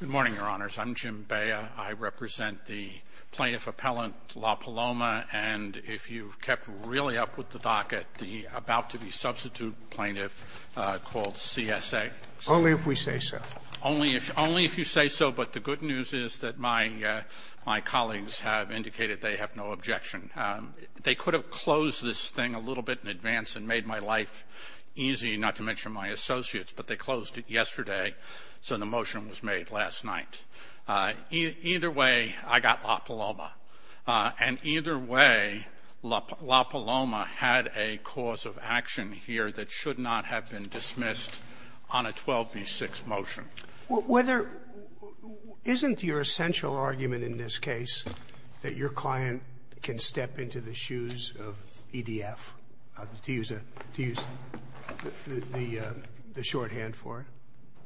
Good morning, Your Honors. I'm Jim Bea. I represent the plaintiff appellant, La Paloma. And if you've kept really up with the docket, the about-to-be-substitute plaintiff called C.S.A. Only if we say so. Only if you say so. But the good news is that my colleagues have indicated they have no objection. They could have closed this thing a little bit in advance and made my life easy, not to mention my associates. But they closed it yesterday, so the motion was made last night. Either way, I got La Paloma. And either way, La Paloma had a cause of action here that should not have been dismissed on a 12B6 motion. Roberts. Isn't your essential argument in this case that your client can step into the shoes of EDF, to use the shorthand for it?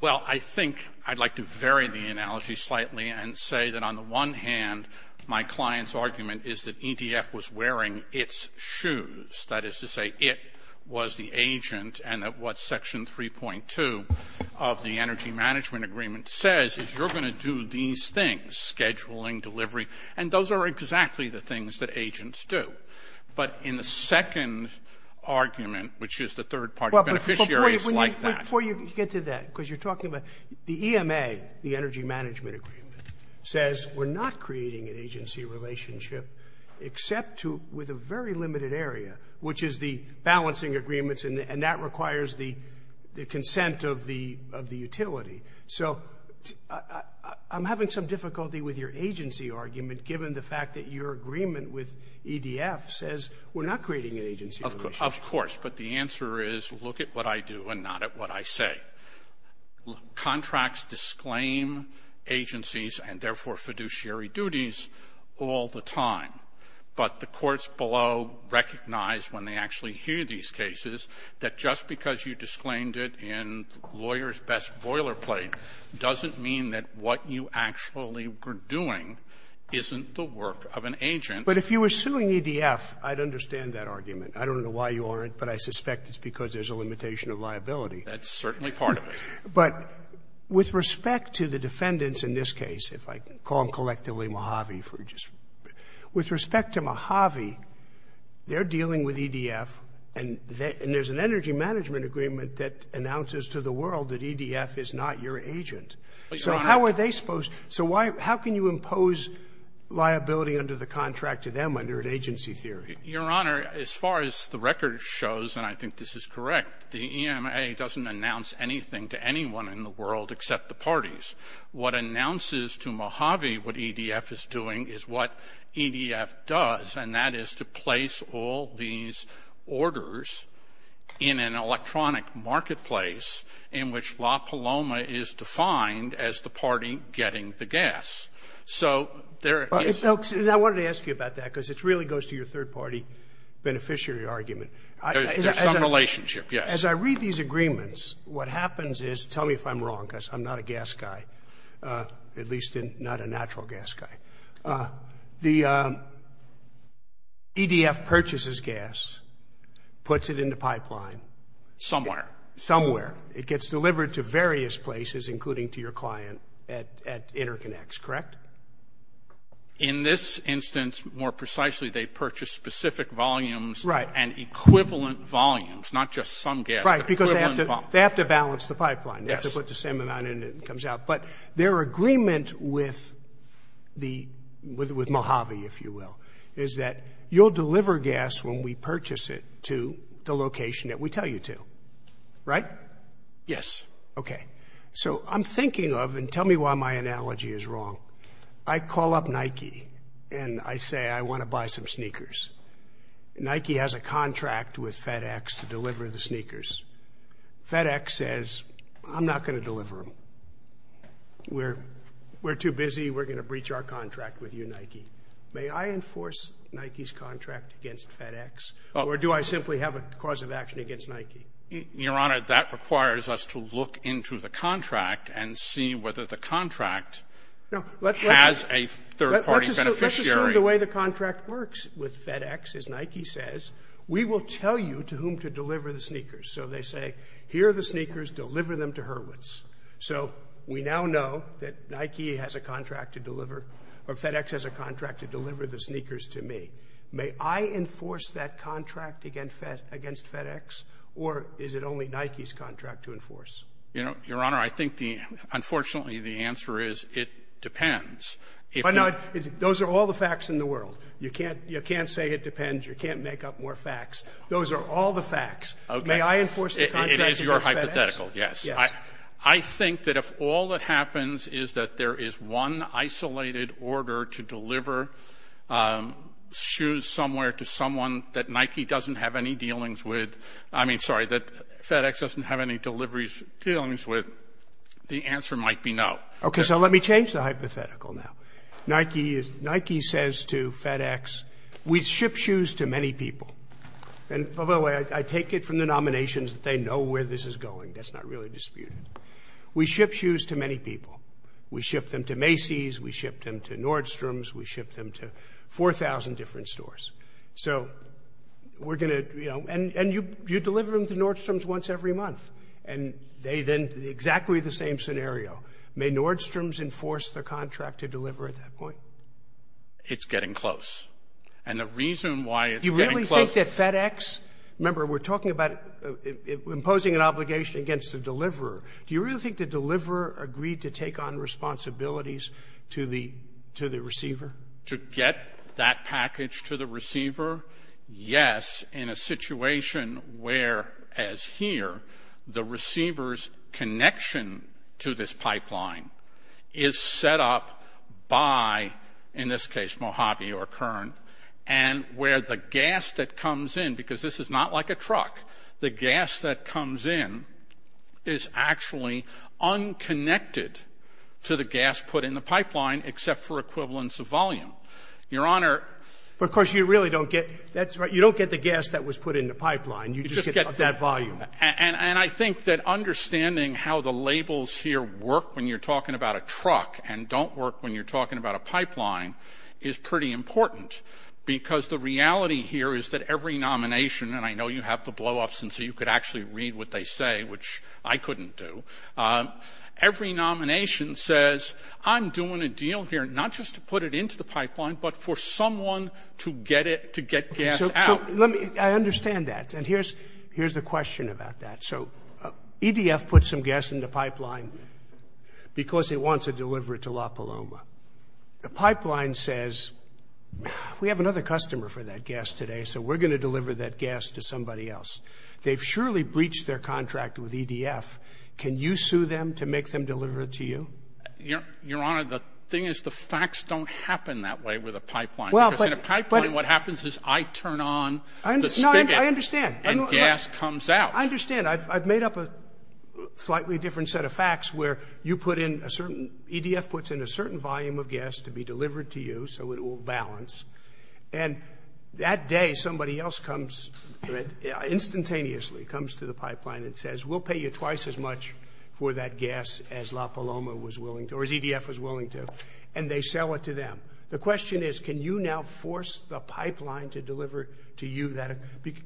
Well, I think I'd like to vary the analogy slightly and say that on the one hand, my client's argument is that EDF was wearing its shoes. That is to say it was the agent and that what Section 3.2 of the Energy Management Agreement says is you're going to do these things, scheduling, delivery, and those are exactly the things that agents do. But in the second argument, which is the third party beneficiaries like that. Before you get to that, because you're talking about the EMA, the Energy Management Agreement, says we're not creating an agency relationship except with a very limited area, which is the balancing agreements, and that requires the consent of the utility. So I'm having some difficulty with your agency argument, given the fact that your agreement with EDF says we're not creating an agency relationship. Of course, but the answer is look at what I do and not at what I say. Contracts disclaim agencies and therefore fiduciary duties all the time. But the courts below recognize when they actually hear these cases that just because you disclaimed it in lawyer's best boilerplate doesn't mean that what you actually were doing isn't the work of an agent. But if you were suing EDF, I'd understand that argument. I don't know why you aren't, but I suspect it's because there's a limitation of liability. That's certainly part of it. But with respect to the defendants in this case, if I call them collectively Mojave, with respect to Mojave, they're dealing with EDF, and there's an Energy Management Agreement that announces to the world that EDF is not your agent. So how are they supposed to – so how can you impose liability under the contract to them under an agency theory? Your Honor, as far as the record shows, and I think this is correct, the EMA doesn't announce anything to anyone in the world except the parties. What announces to Mojave what EDF is doing is what EDF does, and that is to place all these orders in an electronic marketplace in which La Paloma is defined as the party getting the gas. So there is – And I wanted to ask you about that because it really goes to your third-party beneficiary argument. There's some relationship, yes. As I read these agreements, what happens is – tell me if I'm wrong because I'm not a gas guy, at least not a natural gas guy. The EDF purchases gas, puts it in the pipeline. Somewhere. Somewhere. It gets delivered to various places, including to your client at InterConnex, correct? In this instance, more precisely, they purchase specific volumes and equivalent volumes, not just some gas but equivalent volumes. Right, because they have to balance the pipeline. They have to put the same amount in and it comes out. But their agreement with Mojave, if you will, is that you'll deliver gas when we purchase it to the location that we tell you to, right? Yes. Okay. So I'm thinking of – and tell me why my analogy is wrong. I call up Nike and I say I want to buy some sneakers. Nike has a contract with FedEx to deliver the sneakers. FedEx says I'm not going to deliver them. We're too busy. We're going to breach our contract with you, Nike. May I enforce Nike's contract against FedEx or do I simply have a cause of action against Nike? Your Honor, that requires us to look into the contract and see whether the contract has a third-party beneficiary. The way the contract works with FedEx is Nike says we will tell you to whom to deliver the sneakers. So they say here are the sneakers. Deliver them to Hurwitz. So we now know that Nike has a contract to deliver – or FedEx has a contract to deliver the sneakers to me. May I enforce that contract against FedEx or is it only Nike's contract to enforce? Your Honor, I think the – unfortunately, the answer is it depends. But, no, those are all the facts in the world. You can't say it depends. You can't make up more facts. Those are all the facts. May I enforce the contract against FedEx? It is your hypothetical, yes. I think that if all that happens is that there is one isolated order to deliver shoes somewhere to someone that Nike doesn't have any dealings with – I mean, sorry, that FedEx doesn't have any deliveries – dealings with, the answer might be no. Okay, so let me change the hypothetical now. Nike says to FedEx, we ship shoes to many people. And, by the way, I take it from the nominations that they know where this is going. That's not really disputed. We ship shoes to many people. We ship them to Macy's. We ship them to Nordstrom's. We ship them to 4,000 different stores. So we're going to – and you deliver them to Nordstrom's once every month. And they then – exactly the same scenario. May Nordstrom's enforce the contract to deliver at that point? It's getting close. And the reason why it's getting close – Do you really think that FedEx – remember, we're talking about imposing an obligation against the deliverer. Do you really think the deliverer agreed to take on responsibilities to the receiver? To get that package to the receiver? Yes, in a situation where, as here, the receiver's connection to this pipeline is set up by, in this case, Mojave or Kern, and where the gas that comes in – because this is not like a truck – the gas that comes in is actually unconnected to the gas put in the pipeline, except for equivalence of volume. Your Honor – But, of course, you really don't get – that's right. You don't get the gas that was put in the pipeline. You just get that volume. And I think that understanding how the labels here work when you're talking about a truck and don't work when you're talking about a pipeline is pretty important, because the reality here is that every nomination – and I know you have the blow-ups, and so you could actually read what they say, which I couldn't do – every nomination says, I'm doing a deal here not just to put it into the pipeline, but for someone to get it – to get gas out. So let me – I understand that. And here's the question about that. So EDF puts some gas in the pipeline because it wants to deliver it to La Paloma. The pipeline says, we have another customer for that gas today, so we're going to deliver that gas to somebody else. They've surely breached their contract with EDF. Can you sue them to make them deliver it to you? Your Honor, the thing is the facts don't happen that way with a pipeline, because in a pipeline what happens is I turn on the spigot. No, I understand. And gas comes out. I understand. I've made up a slightly different set of facts where you put in a certain – EDF puts in a certain volume of gas to be delivered to you so it will balance, and that day somebody else comes – instantaneously comes to the pipeline and says, we'll pay you twice as much for that gas as La Paloma was willing to – or as EDF was willing to, and they sell it to them. The question is, can you now force the pipeline to deliver to you that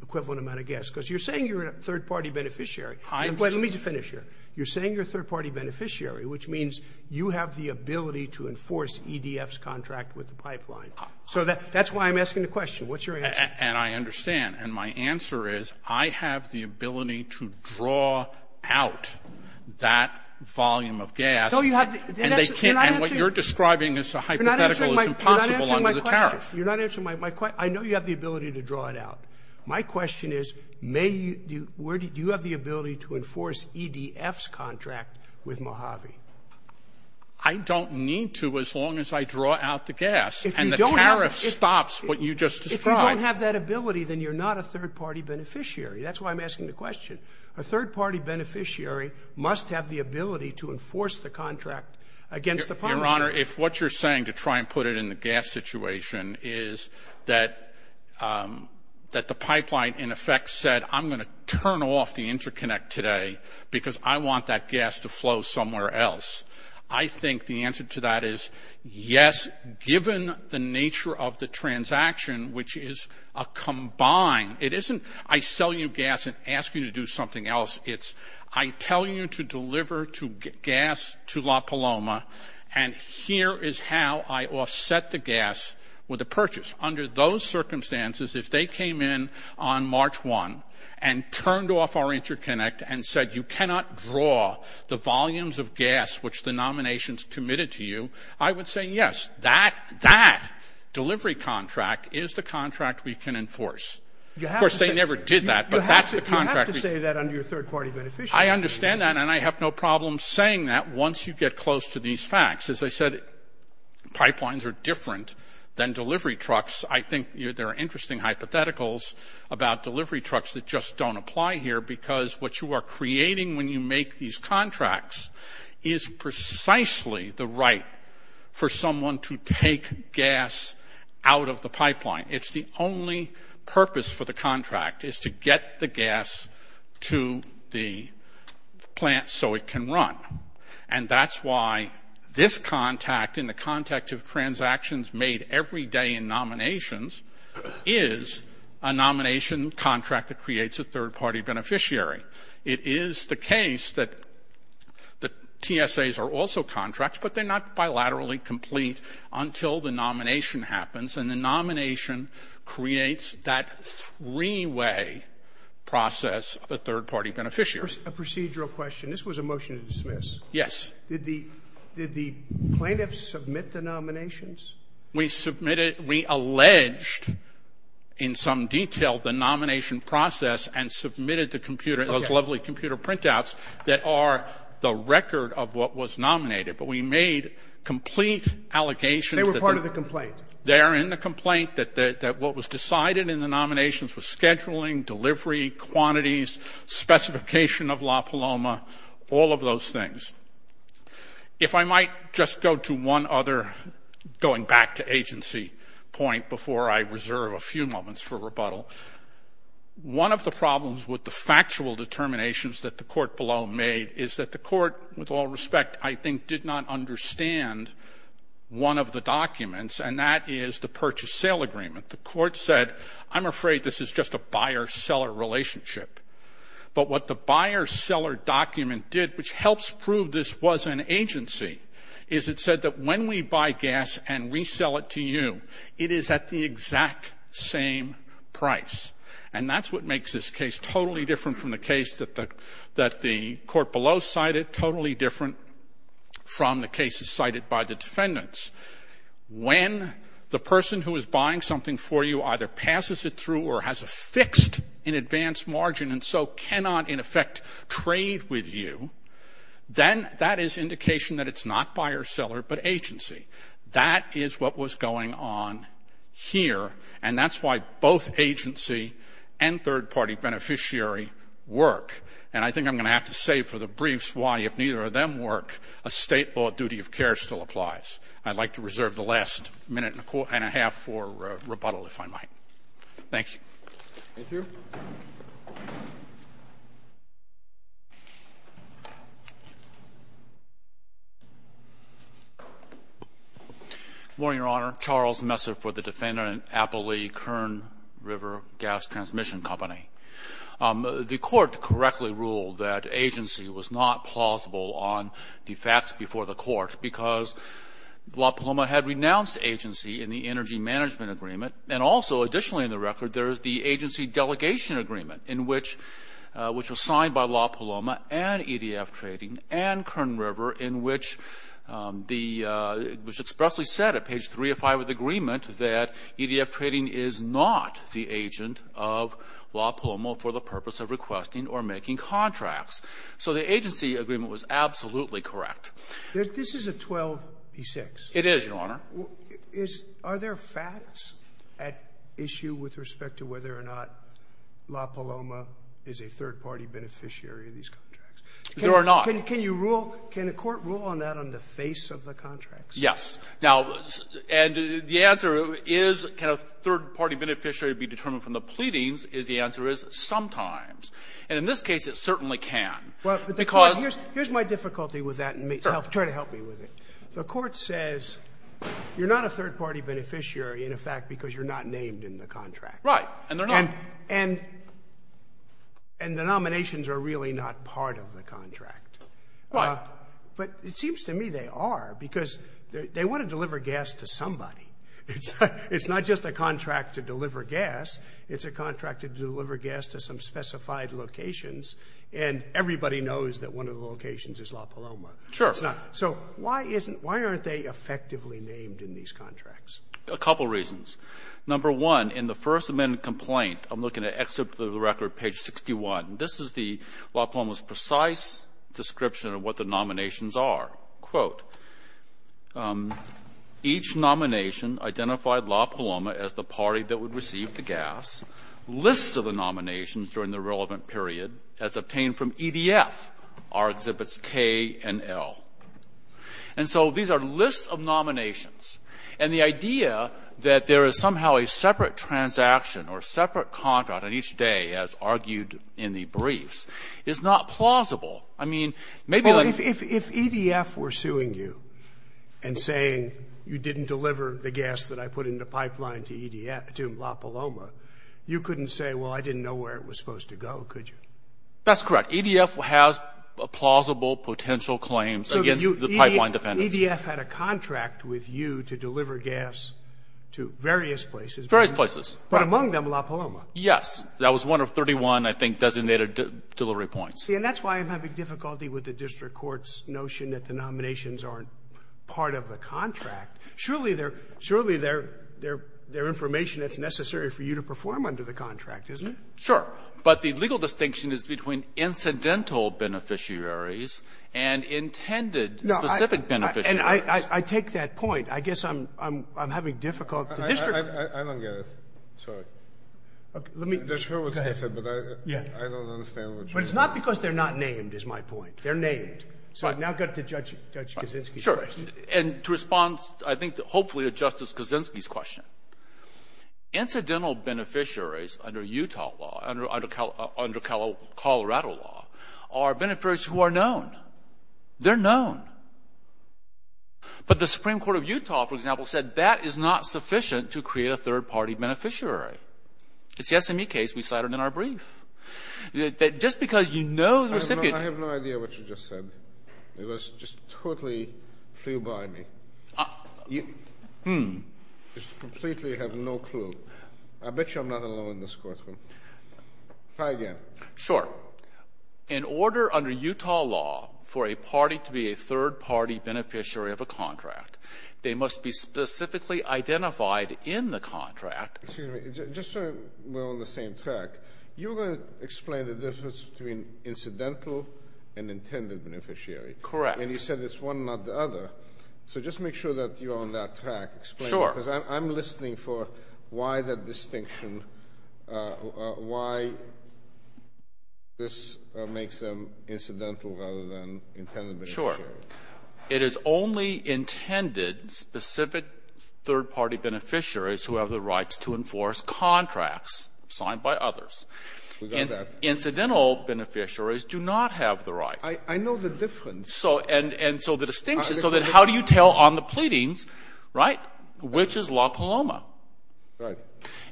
equivalent amount of gas? Because you're saying you're a third-party beneficiary. Let me just finish here. You're saying you're a third-party beneficiary, which means you have the ability to enforce EDF's contract with the pipeline. So that's why I'm asking the question. What's your answer? And I understand. And my answer is I have the ability to draw out that volume of gas. So you have – And what you're describing as a hypothetical is impossible under the tariff. You're not answering my question. I know you have the ability to draw it out. My question is, do you have the ability to enforce EDF's contract with Mojave? I don't need to as long as I draw out the gas, and the tariff stops what you just described. If you don't have that ability, then you're not a third-party beneficiary. That's why I'm asking the question. A third-party beneficiary must have the ability to enforce the contract against the promiser. Your Honor, if what you're saying, to try and put it in the gas situation, is that the pipeline, in effect, said, I'm going to turn off the interconnect today because I want that gas to flow somewhere else, I think the answer to that is yes, given the nature of the transaction, which is a combined – it isn't I sell you gas and ask you to do something else. It's I tell you to deliver gas to La Paloma, and here is how I offset the gas with a purchase. Under those circumstances, if they came in on March 1 and turned off our interconnect and said you cannot draw the volumes of gas which the nominations committed to you, I would say yes, that delivery contract is the contract we can enforce. Of course, they never did that, but that's the contract. You have to say that under your third-party beneficiary. I understand that, and I have no problem saying that once you get close to these facts. As I said, pipelines are different than delivery trucks. I think there are interesting hypotheticals about delivery trucks that just don't apply here because what you are creating when you make these contracts is precisely the right for someone to take gas out of the pipeline. It's the only purpose for the contract is to get the gas to the plant so it can run, and that's why this contact in the context of transactions made every day in nominations is a nomination contract that creates a third-party beneficiary. It is the case that the TSAs are also contracts, but they're not bilaterally complete until the nomination happens, and the nomination creates that three-way process of a third-party beneficiary. A procedural question. This was a motion to dismiss. Yes. Did the plaintiffs submit the nominations? We submitted it. We alleged in some detail the nomination process and submitted those lovely computer printouts that are the record of what was nominated, but we made complete allegations that they're in the complaint, that what was decided in the nominations was scheduling, delivery, quantities, specification of La Paloma, all of those things. If I might just go to one other going back to agency point before I reserve a few moments for rebuttal, one of the problems with the factual determinations that the court below made is that the court, with all respect, I think did not understand one of the documents, and that is the purchase-sale agreement. The court said, I'm afraid this is just a buyer-seller relationship, but what the buyer-seller document did, which helps prove this was an agency, is it said that when we buy gas and resell it to you, it is at the exact same price, and that's what makes this case totally different from the case that the court below cited, totally different from the cases cited by the defendants. When the person who is buying something for you either passes it through or has a fixed in advance margin and so cannot, in effect, trade with you, then that is indication that it's not buyer-seller but agency. That is what was going on here, and that's why both agency and third-party beneficiary work. And I think I'm going to have to save for the briefs why, if neither of them work, a state law duty of care still applies. I'd like to reserve the last minute and a half for rebuttal, if I might. Thank you. Thank you. Good morning, Your Honor. Charles Messer for the defendant, Applee Kern River Gas Transmission Company. The court correctly ruled that agency was not plausible on the facts before the court because La Paloma had renounced agency in the energy management agreement. And also, additionally in the record, there is the agency delegation agreement, which was signed by La Paloma and EDF Trading and Kern River, which expressly said at page 3 of 5 of the agreement that EDF Trading is not the agent of La Paloma for the purpose of requesting or making contracts. So the agency agreement was absolutely correct. This is a 12p6. It is, Your Honor. Is — are there facts at issue with respect to whether or not La Paloma is a third-party beneficiary of these contracts? There are not. Can you rule — can a court rule on that on the face of the contracts? Yes. Now, and the answer is can a third-party beneficiary be determined from the pleadings And in this case, it certainly can, because — Well, here's my difficulty with that, and try to help me with it. The court says you're not a third-party beneficiary in effect because you're not named in the contract. Right. And they're not. And the nominations are really not part of the contract. Right. But it seems to me they are, because they want to deliver gas to somebody. It's not just a contract to deliver gas. It's a contract to deliver gas to some specified locations. And everybody knows that one of the locations is La Paloma. Sure. It's not. So why isn't — why aren't they effectively named in these contracts? A couple reasons. Number one, in the First Amendment complaint, I'm looking at excerpt of the record, page 61. This is the — La Paloma's precise description of what the nominations are. Quote, each nomination identified La Paloma as the party that would receive the gas, lists of the nominations during the relevant period as obtained from EDF, our exhibits K and L. And so these are lists of nominations. And the idea that there is somehow a separate transaction or separate contract on each day, as argued in the briefs, is not plausible. I mean, maybe — Well, if EDF were suing you and saying you didn't deliver the gas that I put in the you couldn't say, well, I didn't know where it was supposed to go, could you? That's correct. EDF has plausible potential claims against the pipeline defendants. So EDF had a contract with you to deliver gas to various places. Various places. But among them, La Paloma. Yes. That was one of 31, I think, designated delivery points. See, and that's why I'm having difficulty with the district court's notion that the nominations aren't part of the contract. Surely they're — surely they're information that's necessary for you to perform under the contract, isn't it? Sure. But the legal distinction is between incidental beneficiaries and intended specific beneficiaries. No. And I take that point. I guess I'm having difficulty. I don't get it. Sorry. Let me go ahead. I don't understand what you're saying. But it's not because they're not named, is my point. They're named. So I've now got to Judge Kaczynski's question. Sure. And to respond, I think, hopefully to Justice Kaczynski's question, incidental beneficiaries under Utah law, under Colorado law, are beneficiaries who are known. They're known. But the Supreme Court of Utah, for example, said that is not sufficient to create a third-party beneficiary. It's the SME case we cited in our brief. Just because you know the recipient — I have no idea what you just said. It was just totally flew by me. You just completely have no clue. I bet you I'm not alone in this courtroom. Try again. Sure. In order under Utah law for a party to be a third-party beneficiary of a contract, they must be specifically identified in the contract — Excuse me. Just so we're on the same track, you were going to explain the difference between Correct. And you said it's one, not the other. So just make sure that you're on that track. Explain it. Sure. Because I'm listening for why that distinction, why this makes them incidental rather than intended beneficiaries. Sure. It is only intended specific third-party beneficiaries who have the rights to enforce contracts signed by others. We got that. Incidental beneficiaries do not have the right. I know the difference. And so the distinction, so then how do you tell on the pleadings, right, which is La Paloma? Right.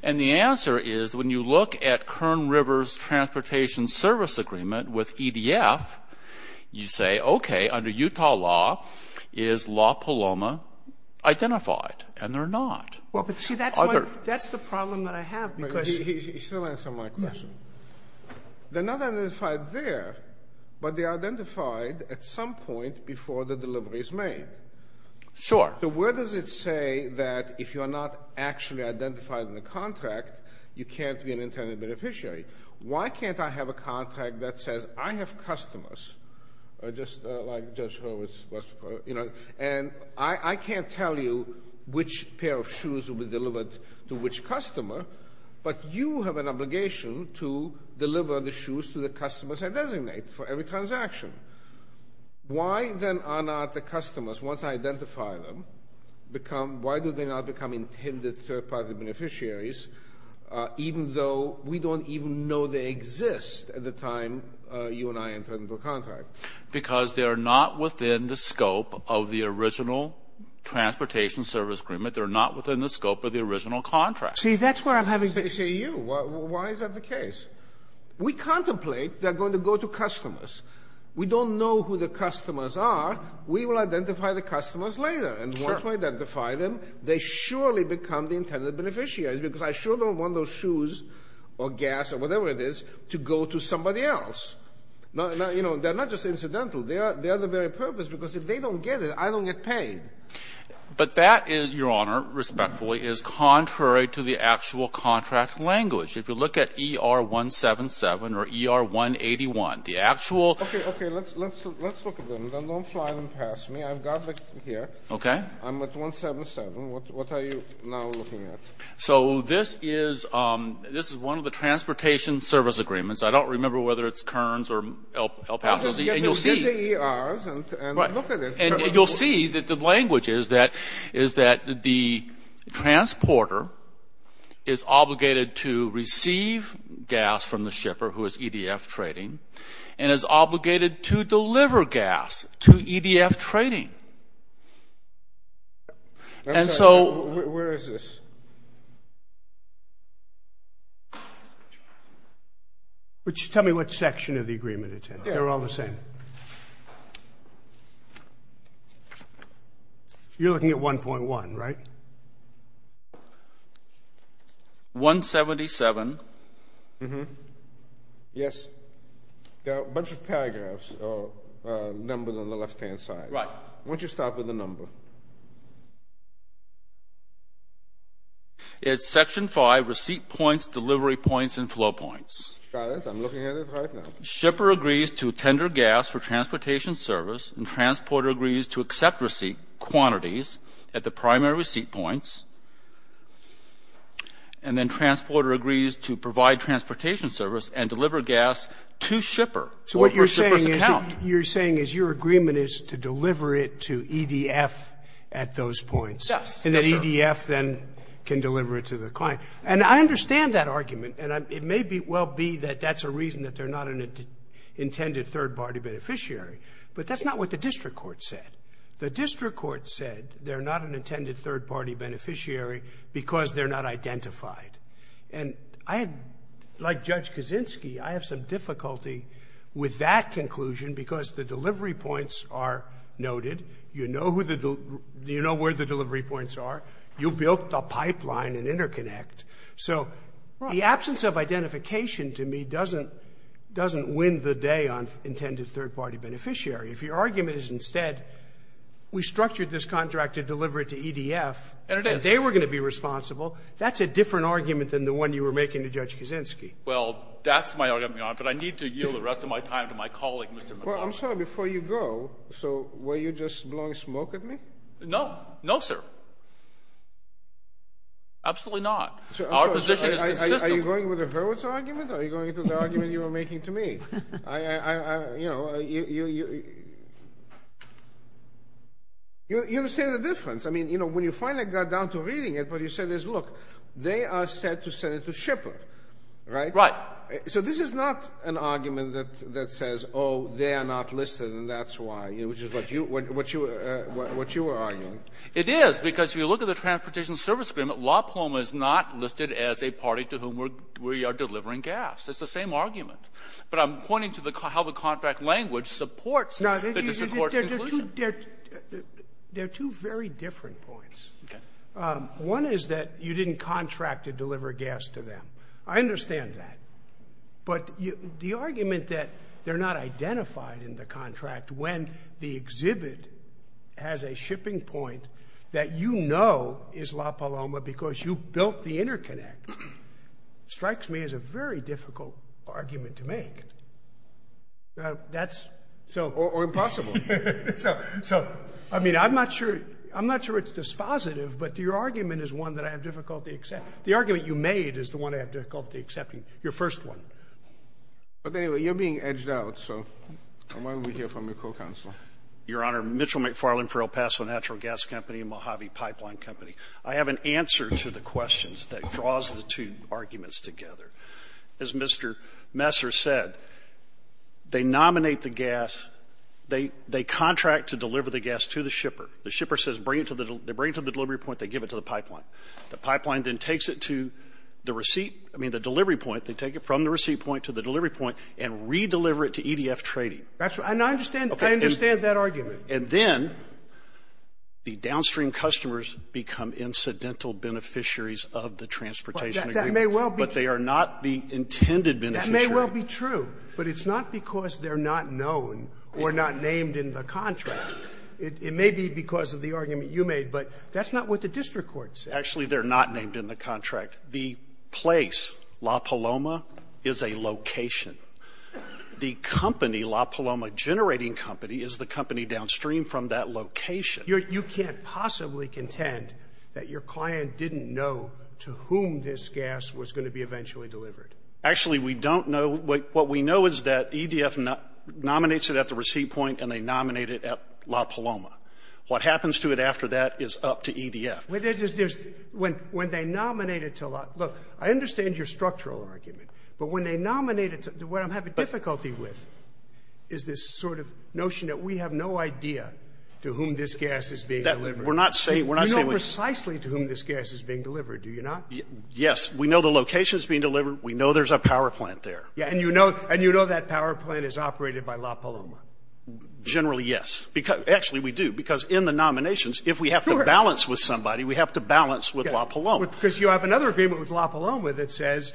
And the answer is when you look at Kern River's transportation service agreement with EDF, you say, okay, under Utah law, is La Paloma identified? And they're not. Well, but see, that's the problem that I have because — He still answered my question. Yes. They're not identified there, but they are identified at some point before the delivery is made. Sure. So where does it say that if you're not actually identified in the contract, you can't be an intended beneficiary? Why can't I have a contract that says I have customers, just like Judge Horowitz was before, and I can't tell you which pair of shoes will be delivered to which customer, but you have an obligation to deliver the shoes to the customers I designate for every transaction? Why then are not the customers, once I identify them, become — why do they not become intended third-party beneficiaries, even though we don't even know they exist at the time you and I entered into a contract? Because they are not within the scope of the original transportation service agreement. They're not within the scope of the original contract. See, that's where I'm having — But say you. Why is that the case? We contemplate they're going to go to customers. We don't know who the customers are. We will identify the customers later. Sure. And once we identify them, they surely become the intended beneficiaries because I sure don't want those shoes or gas or whatever it is to go to somebody else. You know, they're not just incidental. They are the very purpose because if they don't get it, I don't get paid. But that, Your Honor, respectfully, is contrary to the actual contract language. If you look at ER-177 or ER-181, the actual — Okay. Okay. Let's look at them. Don't fly them past me. I've got them here. Okay. I'm at 177. What are you now looking at? So this is one of the transportation service agreements. I don't remember whether it's Kearns or El Paso. I'll just get the ERs and look at it. And you'll see that the language is that the transporter is obligated to receive gas from the shipper, who is EDF trading, and is obligated to deliver gas to EDF trading. And so — Where is this? Tell me what section of the agreement it's in. They're all the same. You're looking at 1.1, right? 177. Yes. There are a bunch of paragraphs or numbers on the left-hand side. Right. Why don't you start with the number? It's section 5, receipt points, delivery points, and flow points. Got it. I'm looking at it right now. So shipper agrees to tender gas for transportation service, and transporter agrees to accept receipt quantities at the primary receipt points. And then transporter agrees to provide transportation service and deliver gas to shipper for a shipper's account. So what you're saying is your agreement is to deliver it to EDF at those points. Yes. And that EDF then can deliver it to the client. And I understand that argument. And it may well be that that's a reason that they're not an intended third-party beneficiary. But that's not what the district court said. The district court said they're not an intended third-party beneficiary because they're not identified. And I, like Judge Kaczynski, I have some difficulty with that conclusion because the delivery points are noted. You know where the delivery points are. You built the pipeline and interconnect. So the absence of identification to me doesn't win the day on intended third-party beneficiary. If your argument is instead we structured this contract to deliver it to EDF. And they were going to be responsible. That's a different argument than the one you were making to Judge Kaczynski. Well, that's my argument, Your Honor. But I need to yield the rest of my time to my colleague, Mr. McLaughlin. Well, I'm sorry. Before you go, so were you just blowing smoke at me? No. No, sir. Absolutely not. Our position is consistent. Are you going with the Hurwitz argument or are you going to the argument you were making to me? I, you know, you understand the difference. I mean, you know, when you finally got down to reading it, what you said is, look, they are set to send it to Shipper, right? Right. So this is not an argument that says, oh, they are not listed and that's why, which is what you were arguing. It is because if you look at the Transportation Service Agreement, La Paloma is not listed as a party to whom we are delivering gas. It's the same argument. But I'm pointing to how the contract language supports the District Court's conclusion. Now, there are two very different points. Okay. One is that you didn't contract to deliver gas to them. I understand that. But the argument that they are not identified in the contract when the exhibit has a shipping point that you know is La Paloma because you built the interconnect, strikes me as a very difficult argument to make. That's so. Or impossible. So, I mean, I'm not sure it's dispositive, but your argument is one that I have difficulty accepting. The argument you made is the one I have difficulty accepting, your first one. But anyway, you're being edged out, so why don't we hear from your co-counselor. Your Honor, Mitchell McFarland for El Paso Natural Gas Company and Mojave Pipeline Company. I have an answer to the questions that draws the two arguments together. As Mr. Messer said, they nominate the gas. They contract to deliver the gas to the Shipper. The Shipper says bring it to the delivery point. They give it to the pipeline. The pipeline then takes it to the receipt, I mean, the delivery point. They take it from the receipt point to the delivery point and re-deliver it to EDF Trading. That's right. And I understand. Okay. I understand that argument. And then the downstream customers become incidental beneficiaries of the transportation agreement. That may well be true. But they are not the intended beneficiaries. That may well be true. But it's not because they're not known or not named in the contract. It may be because of the argument you made. But that's not what the district court said. Actually, they're not named in the contract. The place, La Paloma, is a location. The company, La Paloma Generating Company, is the company downstream from that location. You can't possibly contend that your client didn't know to whom this gas was going to be eventually delivered. Actually, we don't know. What we know is that EDF nominates it at the receipt point and they nominate it at La Paloma. What happens to it after that is up to EDF. When they nominate it to La – look, I understand your structural argument. But when they nominate it to – what I'm having difficulty with is this sort of notion that we have no idea to whom this gas is being delivered. We're not saying – we're not saying – You know precisely to whom this gas is being delivered, do you not? Yes. We know the location it's being delivered. We know there's a power plant there. And you know that power plant is operated by La Paloma? Generally, yes. Actually, we do. Because in the nominations, if we have to balance with somebody, we have to balance with La Paloma. Because you have another agreement with La Paloma that says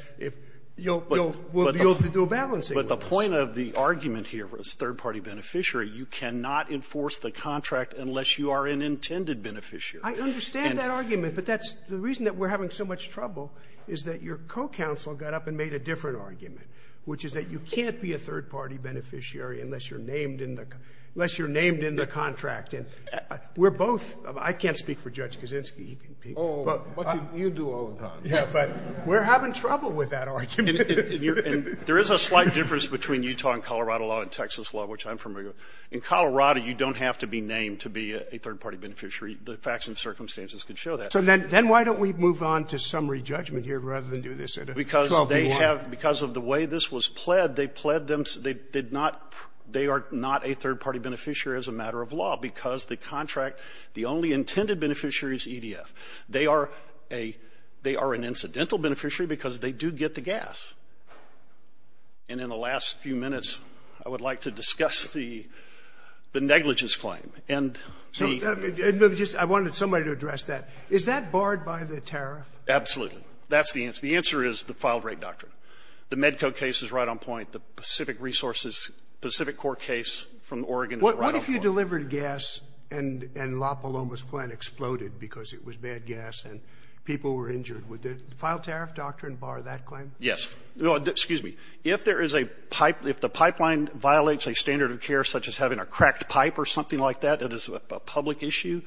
you'll be able to do a balancing with us. But the point of the argument here was third-party beneficiary. You cannot enforce the contract unless you are an intended beneficiary. I understand that argument. But that's – the reason that we're having so much trouble is that your co-counsel got up and made a different argument, which is that you can't be a third-party beneficiary unless you're named in the – unless you're named in the contract. And we're both – I can't speak for Judge Kaczynski. He can speak. Oh, but you do all the time. Yeah, but we're having trouble with that argument. And there is a slight difference between Utah and Colorado law and Texas law, which I'm familiar with. In Colorado, you don't have to be named to be a third-party beneficiary. The facts and circumstances can show that. So then why don't we move on to summary judgment here rather than do this? Because they have – because of the way this was pled, they pled them – they did not – they are not a third-party beneficiary as a matter of law because the contract – the only intended beneficiary is EDF. They are a – they are an incidental beneficiary because they do get the gas. And in the last few minutes, I would like to discuss the – the negligence claim. And the – So just – I wanted somebody to address that. Is that barred by the tariff? Absolutely. That's the answer. The answer is the filed-rate doctrine. The Medco case is right on point. The Pacific Resources – Pacific Corps case from Oregon is right on point. What if you delivered gas and La Paloma's plant exploded because it was bad gas and people were injured? Would the filed-tariff doctrine bar that claim? Yes. No, excuse me. If there is a – if the pipeline violates a standard of care such as having a cracked pipe or something like that that is a public issue,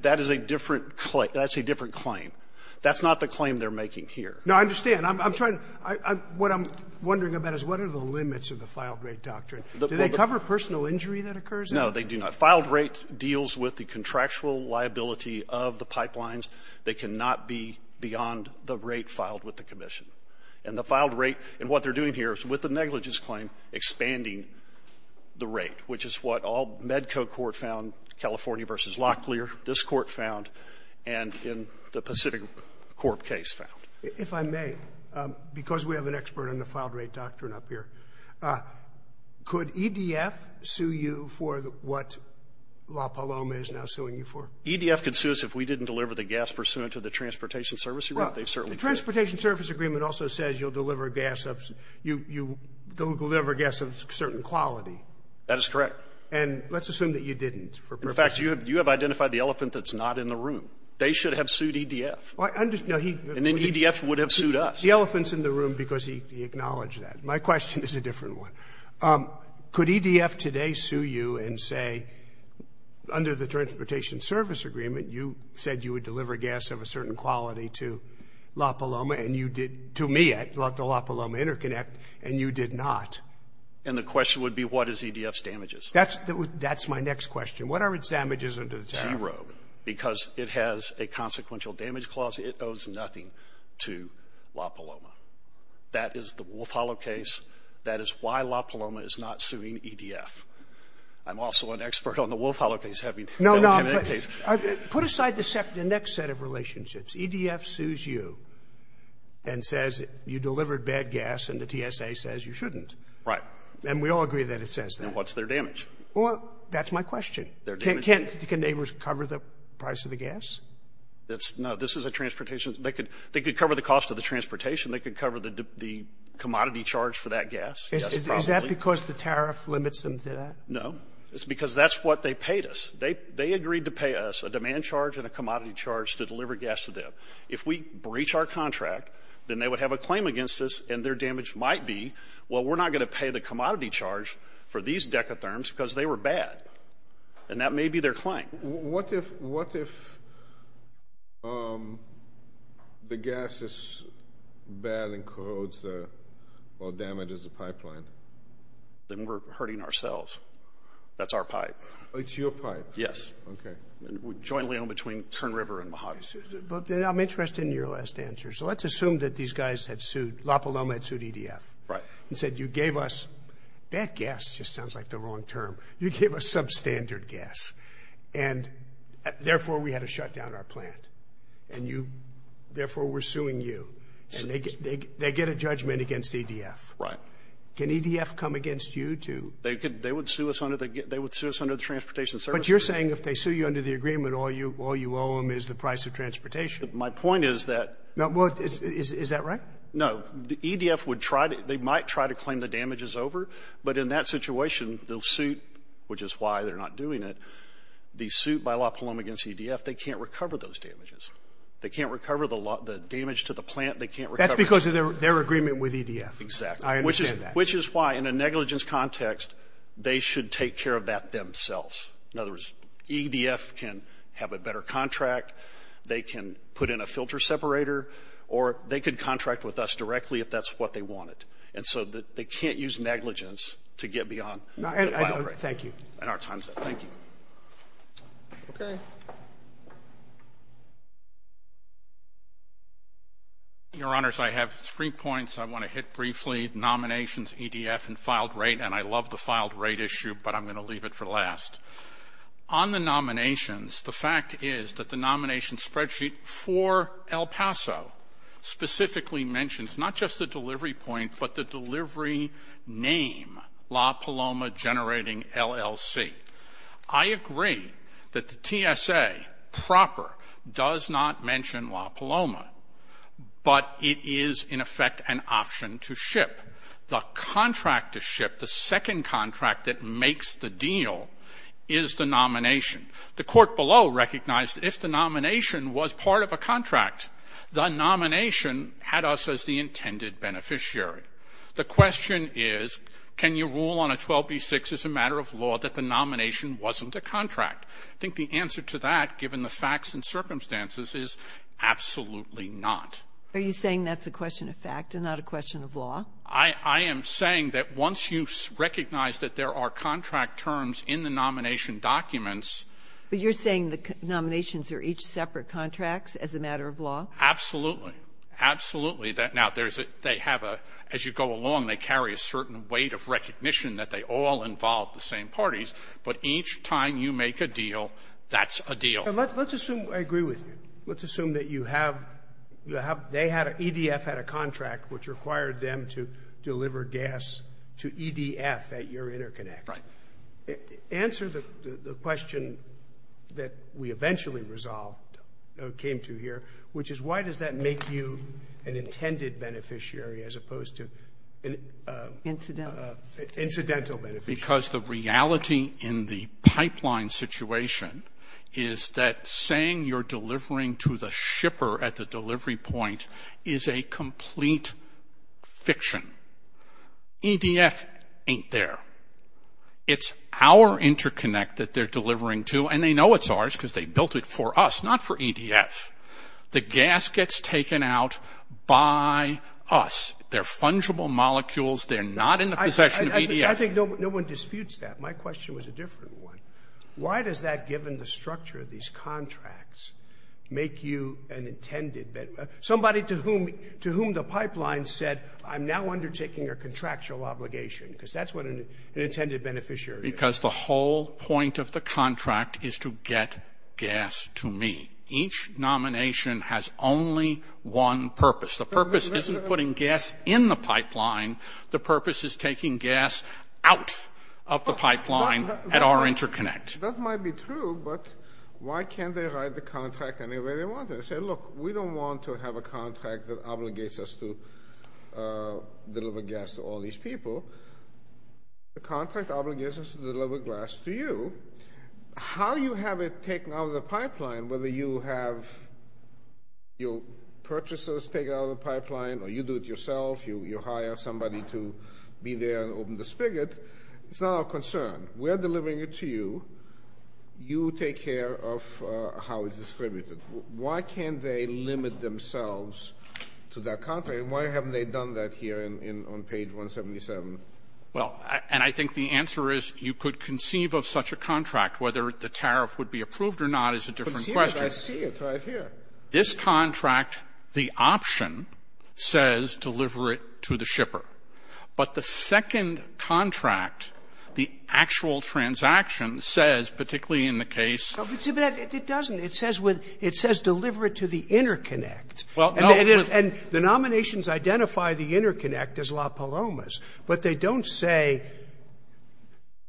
that is a different – that's a different claim. That's not the claim they're making here. No, I understand. I'm trying – what I'm wondering about is what are the limits of the filed-rate doctrine? Do they cover personal injury that occurs? No, they do not. Filed-rate deals with the contractual liability of the pipelines. They cannot be beyond the rate filed with the commission. And the filed-rate – and what they're doing here is, with the negligence claim, expanding the rate, which is what all – Medco court found, California versus Locklear, this court found, and in the Pacific Corp case found. If I may, because we have an expert on the filed-rate doctrine up here, could EDF sue you for what La Paloma is now suing you for? EDF could sue us if we didn't deliver the gas pursuant to the transportation service agreement. They certainly could. Well, the transportation service agreement also says you'll deliver gas of – you will deliver gas of a certain quality. That is correct. And let's assume that you didn't for purposes of – In fact, you have identified the elephant that's not in the room. They should have sued EDF. No, he – And then EDF would have sued us. The elephant's in the room because he acknowledged that. My question is a different one. Could EDF today sue you and say, under the transportation service agreement, you said you would deliver gas of a certain quality to La Paloma and you did – to me, at the La Paloma Interconnect, and you did not? And the question would be, what is EDF's damages? That's my next question. What are its damages under the TARF? Zero, because it has a consequential damage clause. It owes nothing to La Paloma. That is the Wolf Hollow case. That is why La Paloma is not suing EDF. I'm also an expert on the Wolf Hollow case, having dealt with him in that case. No, no. Put aside the next set of relationships. EDF sues you and says you delivered bad gas, and the TSA says you shouldn't. Right. And we all agree that it says that. And what's their damage? Well, that's my question. Can they recover the price of the gas? No. This is a transportation – they could cover the cost of the transportation. They could cover the commodity charge for that gas. Is that because the TARF limits them to that? No. It's because that's what they paid us. They agreed to pay us a demand charge and a commodity charge to deliver gas to them. If we breach our contract, then they would have a claim against us, and their damage might be, well, we're not going to pay the commodity charge for these decatherms because they were bad. And that may be their claim. What if the gas is bad and corrodes the – or damages the pipeline? Then we're hurting ourselves. That's our pipe. It's your pipe? Yes. Okay. Jointly owned between Tern River and Mojave. But I'm interested in your last answer. So let's assume that these guys had sued – La Paloma had sued EDF. Right. And said, you gave us – bad gas just sounds like the wrong term. You gave us substandard gas, and therefore we had to shut down our plant. And you – therefore we're suing you. And they get a judgment against EDF. Right. Can EDF come against you to – They would sue us under the Transportation Service Agreement. But you're saying if they sue you under the agreement, all you owe them is the price of transportation. My point is that – Is that right? No. EDF would try to – they might try to claim the damages over. But in that situation, they'll suit, which is why they're not doing it. The suit by La Paloma against EDF, they can't recover those damages. They can't recover the damage to the plant. They can't recover – That's because of their agreement with EDF. Exactly. I understand that. Which is why, in a negligence context, they should take care of that themselves. In other words, EDF can have a better contract. They can put in a filter separator. Or they could contract with us directly if that's what they wanted. And so they can't use negligence to get beyond the file rate. Thank you. And our time's up. Thank you. Okay. Your Honors, I have three points I want to hit briefly. Nominations, EDF, and filed rate. And I love the filed rate issue, but I'm going to leave it for last. On the nominations, the fact is that the nomination spreadsheet for El Paso specifically mentions not just the delivery point, but the delivery name, La Paloma Generating LLC. I agree that the TSA proper does not mention La Paloma, but it is, in effect, an option to ship. The contract to ship, the second contract that makes the deal, is the nomination. The court below recognized if the nomination was part of a contract, the nomination had us as the intended beneficiary. The question is, can you rule on a 12b-6 as a matter of law that the nomination wasn't a contract? I think the answer to that, given the facts and circumstances, is absolutely not. Are you saying that's a question of fact and not a question of law? I am saying that once you recognize that there are contract terms in the nomination documents. But you're saying the nominations are each separate contracts as a matter of law? Absolutely. Absolutely. Now, they have a — as you go along, they carry a certain weight of recognition that they all involve the same parties. But each time you make a deal, that's a deal. Let's assume — I agree with you. Let's assume that you have — they had — EDF had a contract which required them to deliver gas to EDF at your interconnect. Right. Answer the question that we eventually resolved, came to here, which is, why does that make you an intended beneficiary as opposed to an — Incidental. Incidental beneficiary. Because the reality in the pipeline situation is that saying you're delivering to the shipper at the delivery point is a complete fiction. EDF ain't there. It's our interconnect that they're delivering to. And they know it's ours because they built it for us, not for EDF. The gas gets taken out by us. They're fungible molecules. They're not in the possession of EDF. I think no one disputes that. My question was a different one. Why does that, given the structure of these contracts, make you an intended — somebody to whom the pipeline said, I'm now undertaking a contractual obligation? Because that's what an intended beneficiary is. Because the whole point of the contract is to get gas to me. Each nomination has only one purpose. The purpose isn't putting gas in the pipeline. The purpose is taking gas out of the pipeline at our interconnect. That might be true, but why can't they write the contract any way they want? They say, look, we don't want to have a contract that obligates us to deliver gas to all these people. The contract obligates us to deliver gas to you. How you have it taken out of the pipeline, whether you have your purchasers take it out of the pipeline or you do it yourself, you hire somebody to be there and open the spigot, it's not our concern. We're delivering it to you. You take care of how it's distributed. Why can't they limit themselves to that contract? And why haven't they done that here on page 177? Well, and I think the answer is you could conceive of such a contract. Whether the tariff would be approved or not is a different question. But see, I see it right here. This contract, the option, says deliver it to the shipper. But the second contract, the actual transaction, says, particularly in the case. But it doesn't. It says deliver it to the interconnect. And the nominations identify the interconnect as La Palomas. But they don't say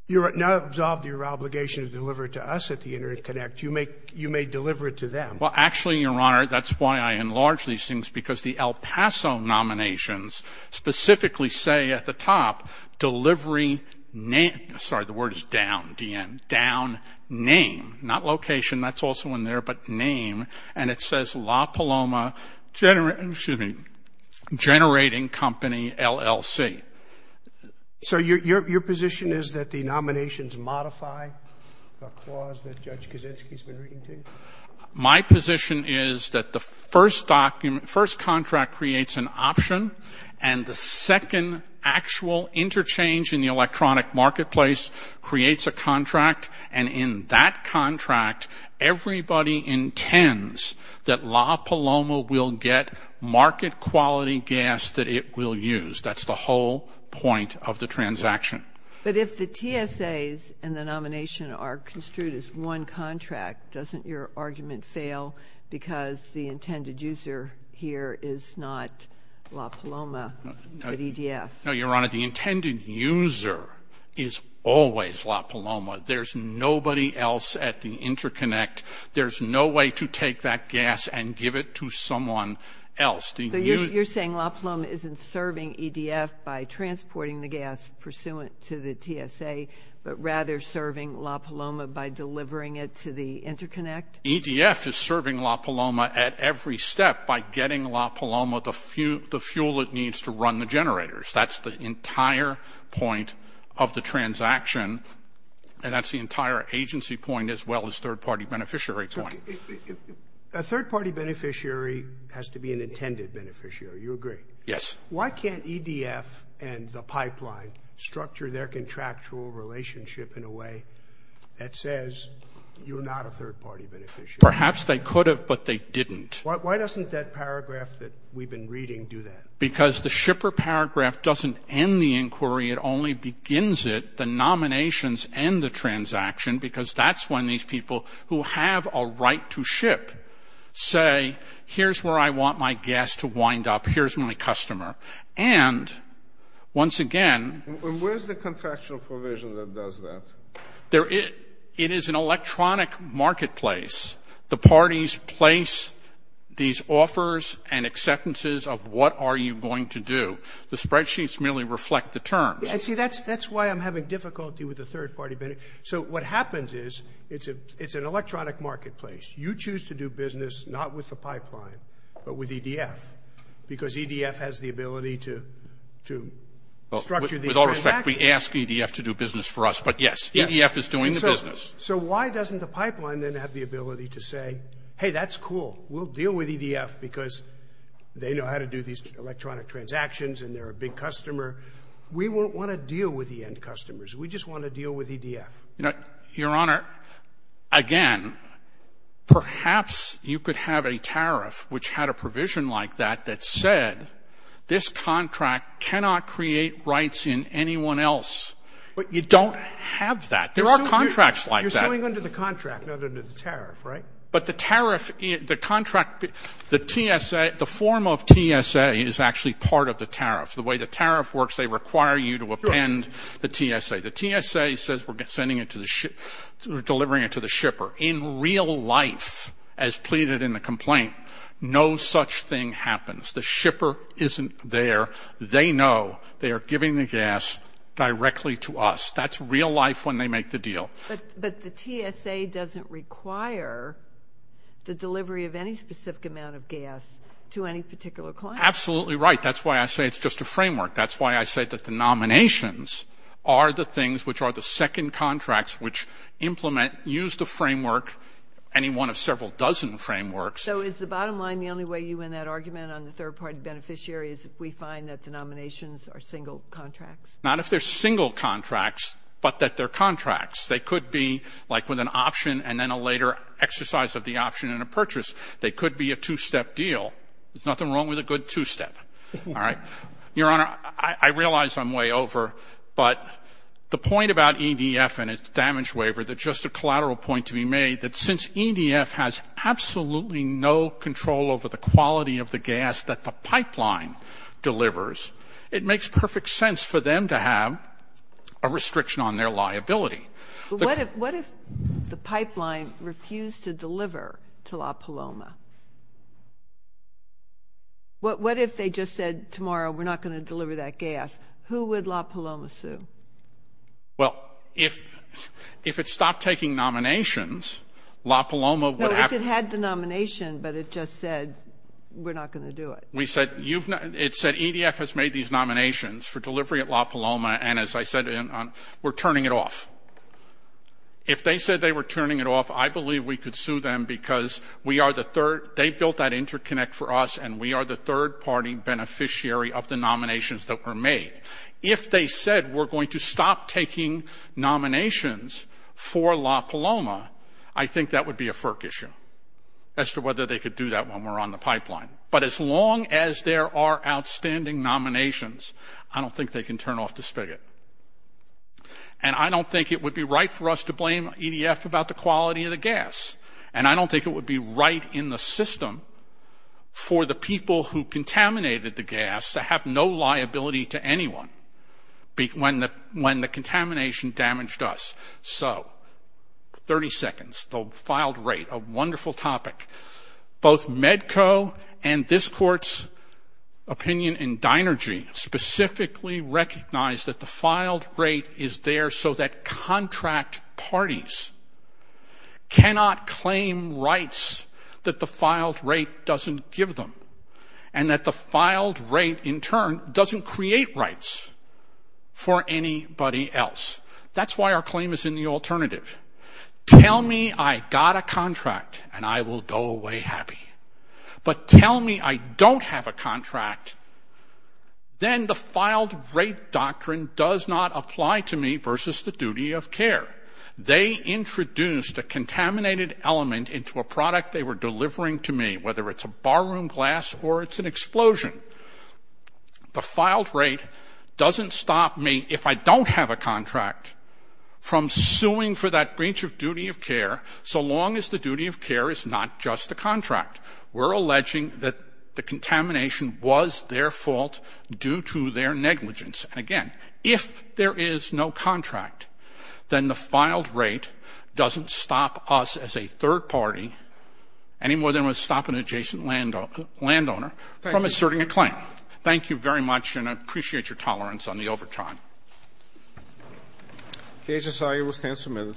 you have now absolved your obligation to deliver it to us at the interconnect. You may deliver it to them. Well, actually, Your Honor, that's why I enlarge these things, because the El Paso nominations specifically say at the top, delivery name. Sorry, the word is down, D-N. Down name, not location. That's also in there, but name. And it says La Paloma Generating Company, LLC. So your position is that the nominations modify the clause that Judge Kaczynski has been reading to you? My position is that the first contract creates an option, and the second actual interchange in the electronic marketplace creates a contract. And in that contract, everybody intends that La Paloma will get market-quality gas that it will use. That's the whole point of the transaction. But if the TSAs and the nomination are construed as one contract, doesn't your argument fail because the intended user here is not La Paloma, but EDF? No, Your Honor, the intended user is always La Paloma. There's nobody else at the interconnect. There's no way to take that gas and give it to someone else. So you're saying La Paloma isn't serving EDF by transporting the gas pursuant to the TSA, but rather serving La Paloma by delivering it to the interconnect? EDF is serving La Paloma at every step by getting La Paloma the fuel it needs to run the generators. That's the entire point of the transaction, and that's the entire agency point as well as third-party beneficiary point. A third-party beneficiary has to be an intended beneficiary. You agree? Yes. Why can't EDF and the pipeline structure their contractual relationship in a way that says you're not a third-party beneficiary? Perhaps they could have, but they didn't. Why doesn't that paragraph that we've been reading do that? Because the shipper paragraph doesn't end the inquiry. It only begins it. The nominations end the transaction because that's when these people who have a right to ship say, here's where I want my gas to wind up, here's my customer. And once again. And where's the contractual provision that does that? It is an electronic marketplace. The parties place these offers and acceptances of what are you going to do. The spreadsheets merely reflect the terms. See, that's why I'm having difficulty with the third-party benefit. So what happens is it's an electronic marketplace. You choose to do business not with the pipeline but with EDF because EDF has the ability to structure these transactions. With all respect, we ask EDF to do business for us, but, yes, EDF is doing the business. So why doesn't the pipeline then have the ability to say, hey, that's cool, we'll deal with EDF because they know how to do these electronic transactions and they're a big customer. We won't want to deal with the end customers. We just want to deal with EDF. You know, Your Honor, again, perhaps you could have a tariff which had a provision like that that said this contract cannot create rights in anyone else. But you don't have that. There are contracts like that. You're suing under the contract, not under the tariff, right? But the tariff, the contract, the TSA, the form of TSA is actually part of the tariff. The way the tariff works, they require you to append the TSA. The TSA says we're delivering it to the shipper. In real life, as pleaded in the complaint, no such thing happens. The shipper isn't there. They know. They are giving the gas directly to us. That's real life when they make the deal. But the TSA doesn't require the delivery of any specific amount of gas to any particular client. Absolutely right. That's why I say it's just a framework. That's why I say that the nominations are the things which are the second contracts which implement, use the framework, any one of several dozen frameworks. So is the bottom line the only way you win that argument on the third-party beneficiary is if we find that the nominations are single contracts? Not if they're single contracts, but that they're contracts. They could be like with an option and then a later exercise of the option in a purchase. They could be a two-step deal. There's nothing wrong with a good two-step. All right? Your Honor, I realize I'm way over, but the point about EDF and its damage waiver, that's just a collateral point to be made, that since EDF has absolutely no control over the quality of the gas that the pipeline delivers, it makes perfect sense for them to have a restriction on their liability. What if the pipeline refused to deliver to La Paloma? What if they just said, tomorrow, we're not going to deliver that gas? Who would La Paloma sue? Well, if it stopped taking nominations, La Paloma would have to... No, if it had the nomination, but it just said, we're not going to do it. It said EDF has made these nominations for delivery at La Paloma, and as I said, we're turning it off. If they said they were turning it off, I believe we could sue them because we are the third... They built that interconnect for us, and we are the third-party beneficiary of the nominations that were made. If they said, we're going to stop taking nominations for La Paloma, I think that would be a FERC issue as to whether they could do that when we're on the pipeline. But as long as there are outstanding nominations, I don't think they can turn off the spigot. And I don't think it would be right for us to blame EDF about the quality of the gas, and I don't think it would be right in the system for the people who contaminated the gas to have no liability to anyone when the contamination damaged us. So, 30 seconds, the filed rate, a wonderful topic. Both MEDCO and this court's opinion in Dinergy specifically recognize that the filed rate is there so that contract parties cannot claim rights that the filed rate doesn't give them, and that the filed rate, in turn, doesn't create rights for anybody else. That's why our claim is in the alternative. Tell me I got a contract, and I will go away happy. But tell me I don't have a contract, then the filed rate doctrine does not apply to me versus the duty of care. They introduced a contaminated element into a product they were delivering to me, whether it's a barroom glass or it's an explosion. The filed rate doesn't stop me, if I don't have a contract, from suing for that breach of duty of care so long as the duty of care is not just a contract. We're alleging that the contamination was their fault due to their negligence. And again, if there is no contract, then the filed rate doesn't stop us as a third party, any more than it would stop an adjacent landowner from asserting a claim. Thank you very much, and I appreciate your tolerance on the overtime. The HSI will stand for a minute.